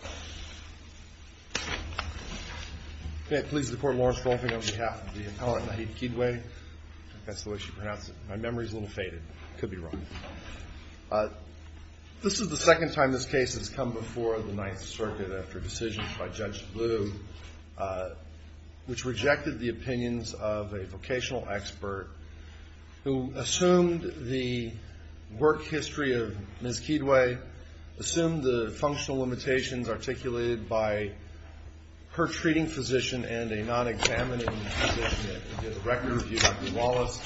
This is the second time this case has come before the Ninth Circuit after decisions by Judge Bluh, which rejected the opinions of a vocational expert who assumed the work history of Ms. Kidwai, assumed the functional limitations articulated by her treating physician and a non-examining physician at the records bureau, Dr. Wallace,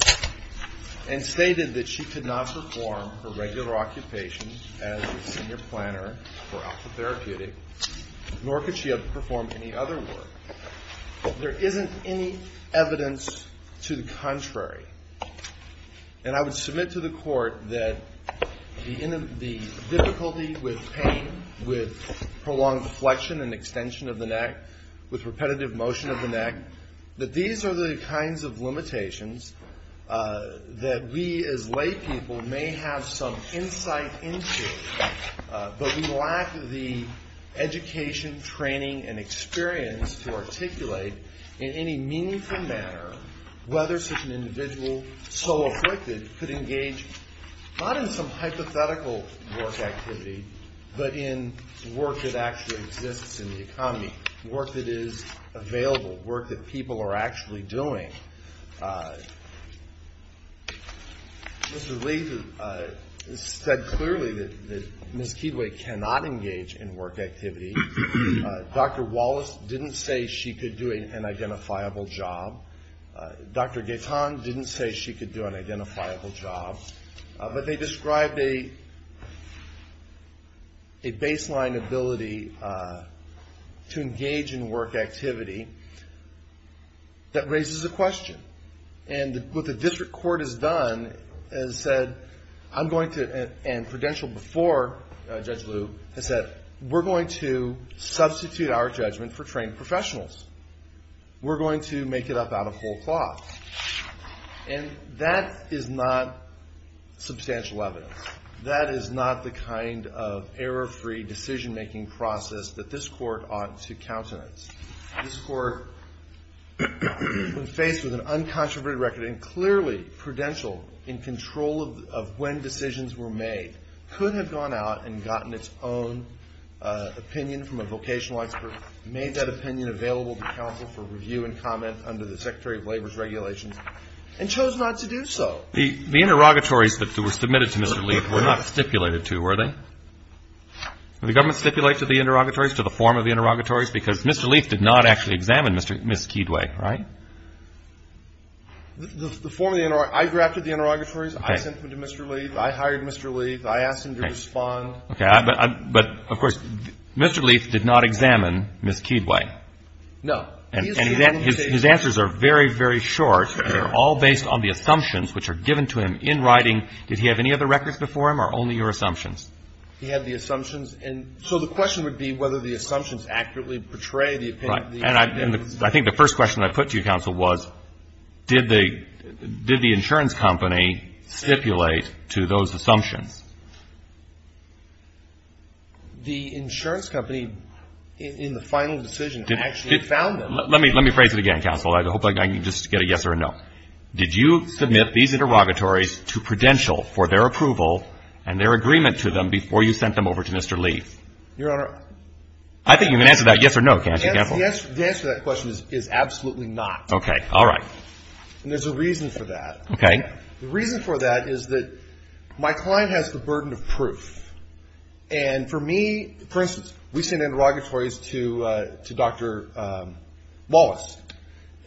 and stated that she could not perform her regular occupation as a senior planner for Alpha Therapeutic, nor could she have performed any other work. There isn't any evidence to the contrary. And I would submit to the Court that the difficulty with pain, with prolonged flexion and extension of the neck, with repetitive motion of the neck, that these are the kinds of limitations that we as laypeople may have some insight into, but we lack the education, training, and experience to articulate in any meaningful manner whether such an individual, so afflicted, could engage not in some hypothetical work activity, but in work that actually exists in the economy, work that is available, work that people are actually doing. Mr. Lee said clearly that Ms. Kidwai cannot engage in work activity. Dr. Wallace didn't say she could do an identifiable job. Dr. Gaetan didn't say she could do an identifiable job. But they described a baseline ability to engage in work activity that raises a question. And what the district court has done and said, and Prudential before Judge Liu, has said, we're going to substitute our judgment for trained professionals. We're going to make it up out of whole cloth. And that is not substantial evidence. That is not the kind of error-free decision-making process that this Court ought to countenance. This Court, when faced with an uncontroverted record, and clearly Prudential in control of when decisions were made, could have gone out and gotten its own opinion from a vocational expert, made that opinion available to counsel for review and comment under the Secretary of Labor's regulations, and chose not to do so. The interrogatories that were submitted to Mr. Lee were not stipulated to, were they? Did the government stipulate to the interrogatories, to the form of the interrogatories, because Mr. Lee did not actually examine Ms. Kidwai, right? The form of the interrogatories, I drafted the interrogatories. Okay. I sent them to Mr. Lee. I hired Mr. Lee. I asked him to respond. Okay. But, of course, Mr. Lee did not examine Ms. Kidwai. No. And his answers are very, very short. They're all based on the assumptions which are given to him in writing. Did he have any other records before him or only your assumptions? He had the assumptions. And so the question would be whether the assumptions accurately portray the opinion. Right. And I think the first question I put to you, counsel, was did the insurance company stipulate to those assumptions? The insurance company, in the final decision, actually found them. Let me phrase it again, counsel. I hope I can just get a yes or a no. Did you submit these interrogatories to Prudential for their approval and their agreement to them before you sent them over to Mr. Lee? Your Honor. I think you can answer that yes or no, can't you, counsel? The answer to that question is absolutely not. Okay. All right. And there's a reason for that. Okay. The reason for that is that my client has the burden of proof. And for me, for instance, we sent interrogatories to Dr. Wallace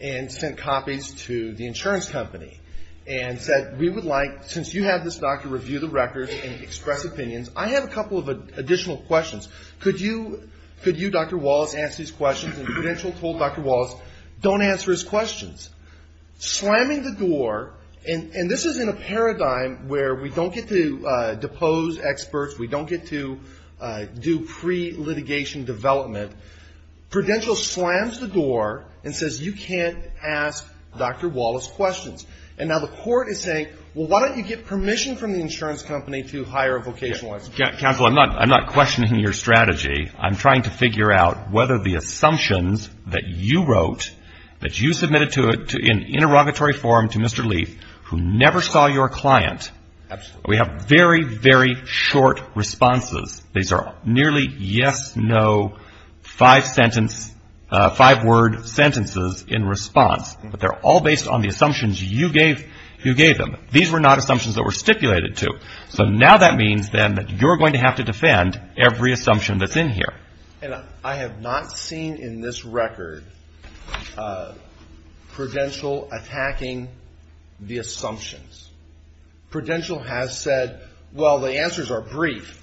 and sent copies to the insurance company and said, we would like, since you have this doctor review the records and express opinions, I have a couple of additional questions. Could you, Dr. Wallace, answer these questions? And Prudential told Dr. Wallace, don't answer his questions. Slamming the door, and this is in a paradigm where we don't get to depose experts, we don't get to do pre-litigation development, Prudential slams the door and says, you can't ask Dr. Wallace questions. And now the court is saying, well, why don't you get permission from the insurance company to hire a vocational expert? Counsel, I'm not questioning your strategy. I'm trying to figure out whether the assumptions that you wrote, that you submitted to an interrogatory forum to Mr. Leaf, who never saw your client, we have very, very short responses. These are nearly yes, no, five sentence, five word sentences in response. But they're all based on the assumptions you gave them. These were not assumptions that were stipulated to. So now that means, then, that you're going to have to defend every assumption that's in here. And I have not seen in this record Prudential attacking the assumptions. Prudential has said, well, the answers are brief.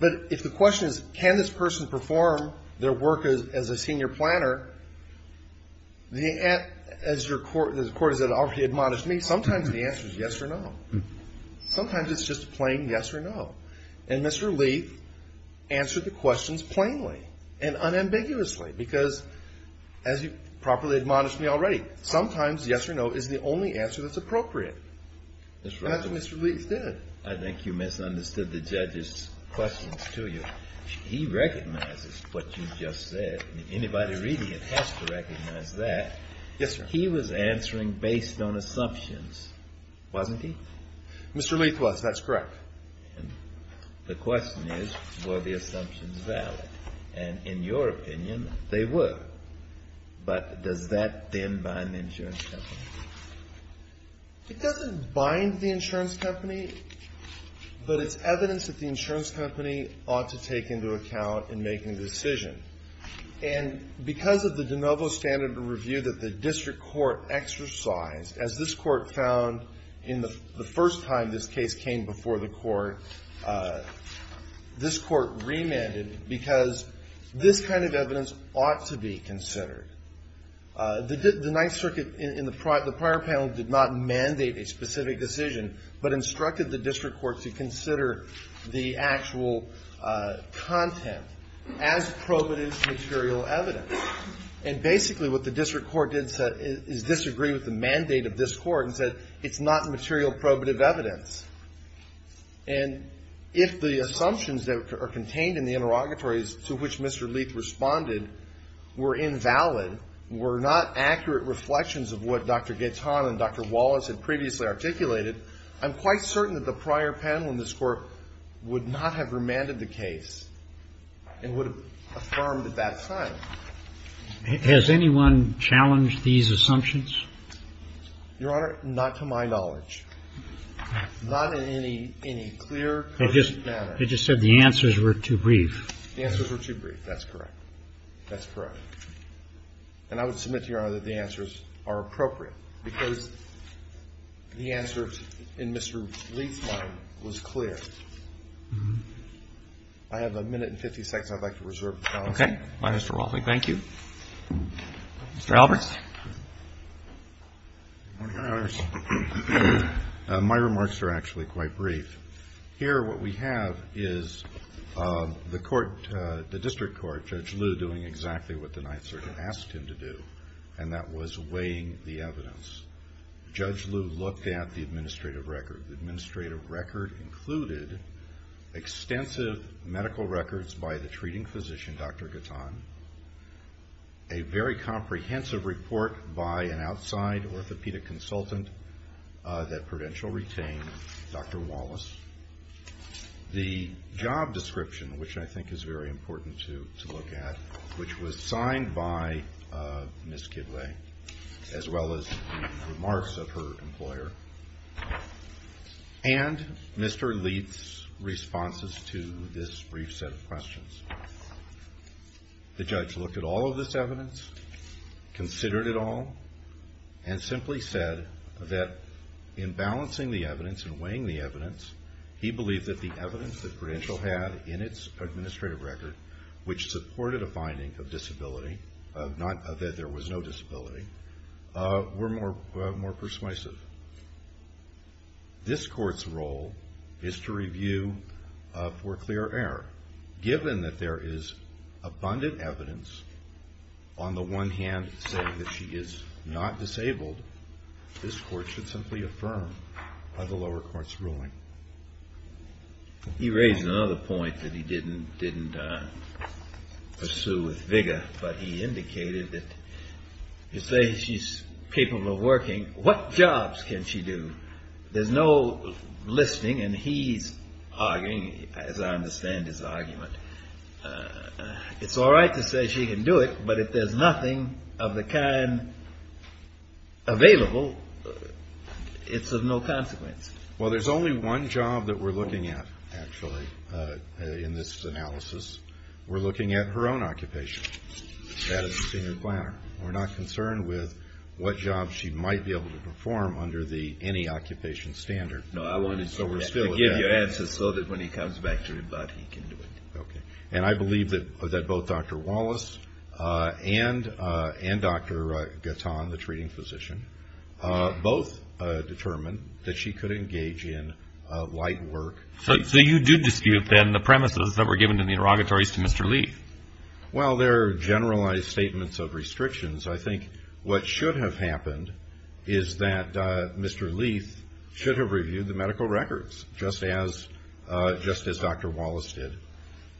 But if the question is, can this person perform their work as a senior planner, as the court has already admonished me, sometimes the answer is yes or no. Sometimes it's just a plain yes or no. And Mr. Leaf answered the questions plainly and unambiguously. Because, as you properly admonished me already, sometimes yes or no is the only answer that's appropriate. And that's what Mr. Leaf did. I think you misunderstood the judge's questions to you. He recognizes what you just said. Anybody reading it has to recognize that. Yes, sir. But he was answering based on assumptions, wasn't he? Mr. Leaf was. That's correct. And the question is, were the assumptions valid? And in your opinion, they were. But does that, then, bind the insurance company? It doesn't bind the insurance company, but it's evidence that the insurance company ought to take into account in making a decision. And because of the de novo standard of review that the district court exercised, as this court found in the first time this case came before the court, this court remanded because this kind of evidence ought to be considered. The Ninth Circuit in the prior panel did not mandate a specific decision, but instructed the district court to consider the actual content. As probative material evidence. And basically what the district court did is disagree with the mandate of this court and said it's not material probative evidence. And if the assumptions that are contained in the interrogatories to which Mr. Leaf responded were invalid, were not accurate reflections of what Dr. Gaetan and Dr. Wallace had previously articulated, I'm quite certain that the prior panel in this court would not have remanded the case and would have affirmed at that time. Has anyone challenged these assumptions? Your Honor, not to my knowledge. Not in any clear, concrete manner. They just said the answers were too brief. The answers were too brief. That's correct. That's correct. And I would submit to Your Honor that the answers are appropriate, because the answer in Mr. Leaf's mind was clear. I have a minute and 50 seconds I'd like to reserve. Okay. Thank you. Mr. Alberts. Good morning, Your Honor. My remarks are actually quite brief. Here what we have is the court, the district court, Judge Liu doing exactly what the Ninth Circuit asked him to do, and that was weighing the evidence. Judge Liu looked at the administrative record. The administrative record included extensive medical records by the treating physician, Dr. Gatton, a very comprehensive report by an outside orthopedic consultant that Prudential retained, Dr. Wallace, the job description, which I think is very important to look at, which was signed by Ms. Kidway, as well as the remarks of her employer. And Mr. Leaf's responses to this brief set of questions. The judge looked at all of this evidence, considered it all, and simply said that in balancing the evidence and weighing the evidence, he believed that the evidence that Prudential had in its administrative record, which supported a finding of disability, that there was no disability, were more persuasive. This court's role is to review for clear error. Given that there is abundant evidence, on the one hand, saying that she is not disabled, this court should simply affirm the lower court's ruling. But he indicated that you say she's capable of working. What jobs can she do? There's no listing, and he's arguing, as I understand his argument, it's all right to say she can do it, but if there's nothing of the kind available, it's of no consequence. Well, there's only one job that we're looking at, actually, in this analysis. We're looking at her own occupation. That is the senior planner. We're not concerned with what job she might be able to perform under the any-occupation standard. No, I wanted to give you an answer so that when he comes back to rebut, he can do it. Okay. And I believe that both Dr. Wallace and Dr. Gatton, the treating physician, both determined that she could engage in light work. So you do dispute, then, the premises that were given in the interrogatories to Mr. Leith? Well, they're generalized statements of restrictions. I think what should have happened is that Mr. Leith should have reviewed the medical records, just as Dr. Wallace did,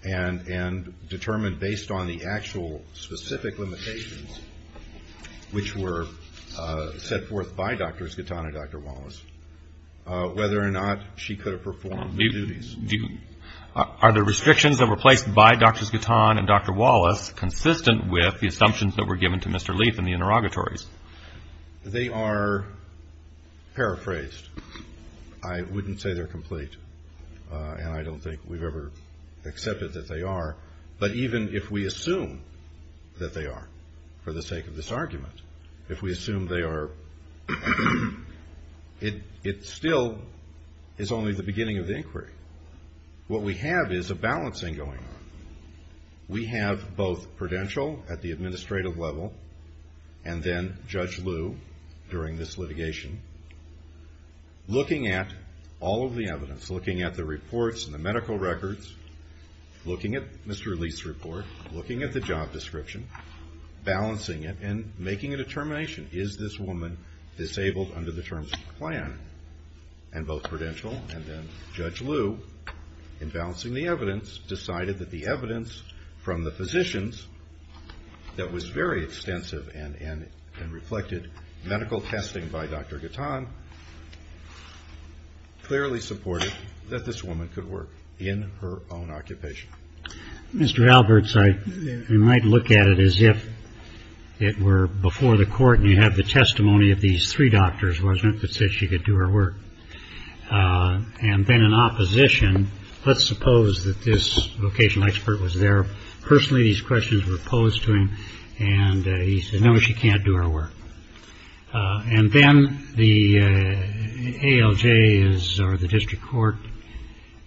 and determined based on the actual specific limitations, which were set forth by Drs. Gatton and Dr. Wallace, whether or not she could have performed the duties. Are the restrictions that were placed by Drs. Gatton and Dr. Wallace consistent with the assumptions that were given to Mr. Leith in the interrogatories? They are paraphrased. I wouldn't say they're complete, and I don't think we've ever accepted that they are. But even if we assume that they are, for the sake of this argument, if we assume they are, it still is only the beginning of the inquiry. What we have is a balancing going on. We have both Prudential at the administrative level, and then Judge Liu during this litigation, looking at all of the evidence, looking at the reports and the medical records, looking at Mr. Leith's report, looking at the job description, balancing it and making a determination. Is this woman disabled under the terms of the plan? And both Prudential and then Judge Liu, in balancing the evidence, decided that the evidence from the physicians, that was very extensive and reflected medical testing by Dr. Gatton, clearly supported that this woman could work in her own occupation. Mr. Alberts, I might look at it as if it were before the court and you have the testimony of these three doctors, wasn't it, that said she could do her work? And then in opposition, let's suppose that this vocational expert was there. Personally, these questions were posed to him, and he said, no, she can't do her work. And then the ALJ or the district court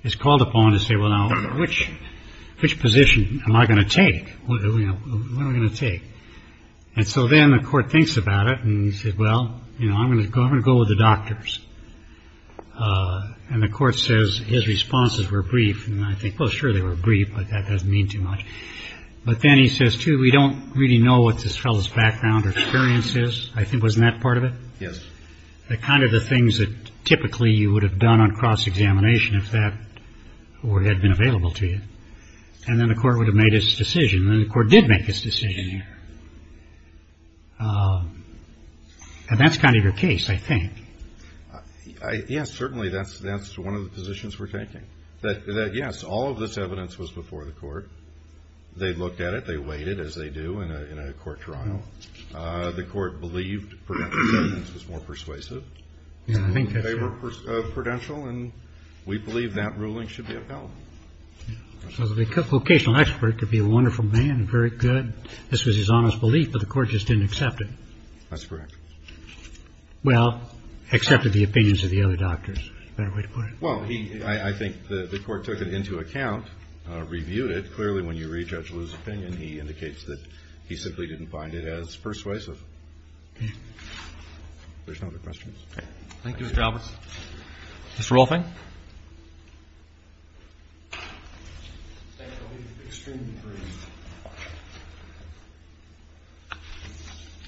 is called upon to say, well, now, which position am I going to take? What are we going to take? And so then the court thinks about it and he said, well, I'm going to go with the doctors. And the court says his responses were brief, and I think, well, sure, they were brief, but that doesn't mean too much. But then he says, too, we don't really know what this fellow's background or experience is. I think, wasn't that part of it? Yes. The kind of the things that typically you would have done on cross-examination if that award had been available to you. And then the court would have made its decision, and the court did make its decision here. And that's kind of your case, I think. Yes, certainly, that's one of the positions we're taking. Yes, all of this evidence was before the court. They looked at it. They weighed it, as they do in a court trial. The court believed Prudential's evidence was more persuasive. They were Prudential, and we believe that ruling should be upheld. So the vocational expert could be a wonderful man, very good. This was his honest belief, but the court just didn't accept it. That's correct. Well, accepted the opinions of the other doctors, is the better way to put it. Well, I think the court took it into account, reviewed it. Clearly, when you re-judge Lew's opinion, he indicates that he simply didn't find it as persuasive. Okay. If there's no other questions. Okay. Thank you, Mr. Alberts. Mr. Rolfing?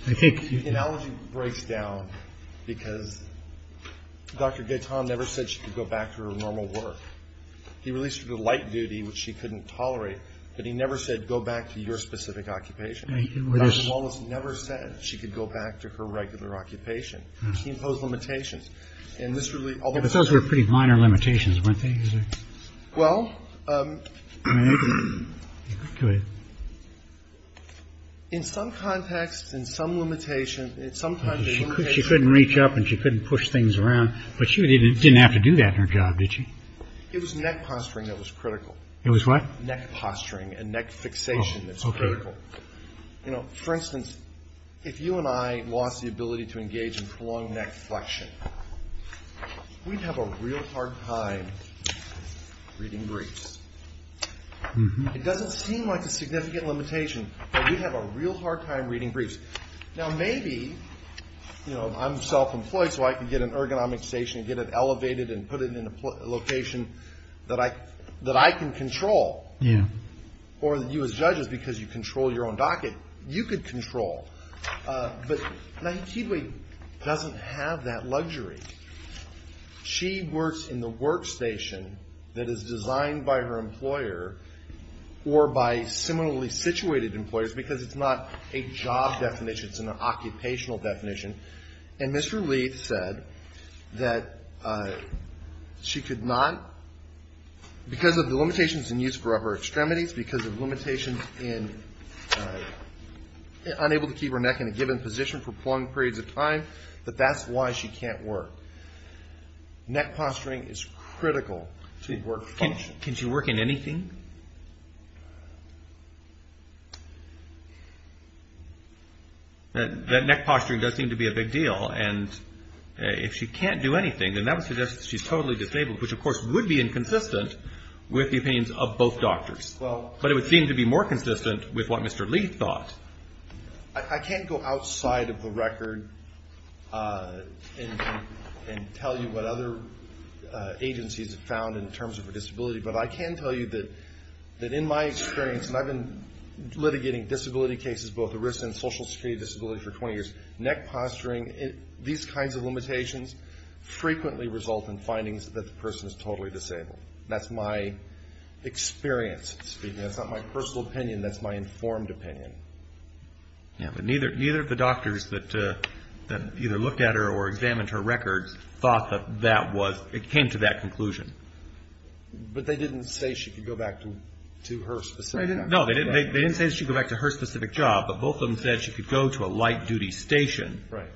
I think the analogy breaks down because Dr. Gaitan never said she could go back to her normal work. He released her to light duty, which she couldn't tolerate, but he never said go back to your specific occupation. Dr. Wallace never said she could go back to her regular occupation. He imposed limitations. Those were pretty minor limitations, weren't they? Well. Go ahead. In some context, in some limitation, in some kind of limitation. She couldn't reach up and she couldn't push things around, but she didn't have to do that in her job, did she? It was neck posturing that was critical. It was what? Neck posturing and neck fixation that's critical. For instance, if you and I lost the ability to engage in prolonged neck flexion, we'd have a real hard time reading briefs. It doesn't seem like a significant limitation, but we'd have a real hard time reading briefs. Now, maybe I'm self-employed so I can get an ergonomic station, get it elevated and put it in a location that I can control. Yeah. Or you as judges, because you control your own docket, you could control. But Nahitidwe doesn't have that luxury. She works in the workstation that is designed by her employer or by similarly situated employers because it's not a job definition. It's an occupational definition. And Mr. Lee said that she could not, because of the limitations in use for her extremities, because of limitations in unable to keep her neck in a given position for prolonged periods of time, that that's why she can't work. Neck posturing is critical to work function. Can she work in anything? That neck posturing does seem to be a big deal. And if she can't do anything, then that would suggest that she's totally disabled, which of course would be inconsistent with the opinions of both doctors. But it would seem to be more consistent with what Mr. Lee thought. I can't go outside of the record and tell you what other agencies have found in terms of her disability, but I can tell you that in my experience, and I've been litigating disability cases, both arrested and social security disability for 20 years, neck posturing, these kinds of limitations frequently result in findings that the person is totally disabled. That's my experience speaking. That's not my personal opinion. That's my informed opinion. Yeah, but neither of the doctors that either looked at her or examined her records thought that that was, it came to that conclusion. But they didn't say she could go back to her specific job. No, they didn't say she could go back to her specific job, but both of them said she could go to a light-duty station. Right.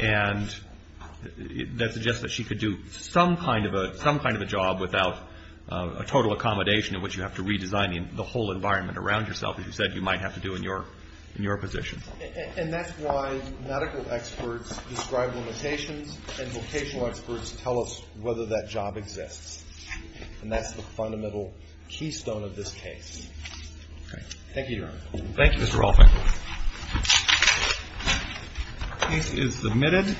And that suggests that she could do some kind of a job without a total accommodation in which you have to redesign the whole environment around yourself, as you said you might have to do in your position. And that's why medical experts describe limitations, and vocational experts tell us whether that job exists. And that's the fundamental keystone of this case. Okay. Thank you, Your Honor. Thank you, Mr. Rolfing. Case is submitted.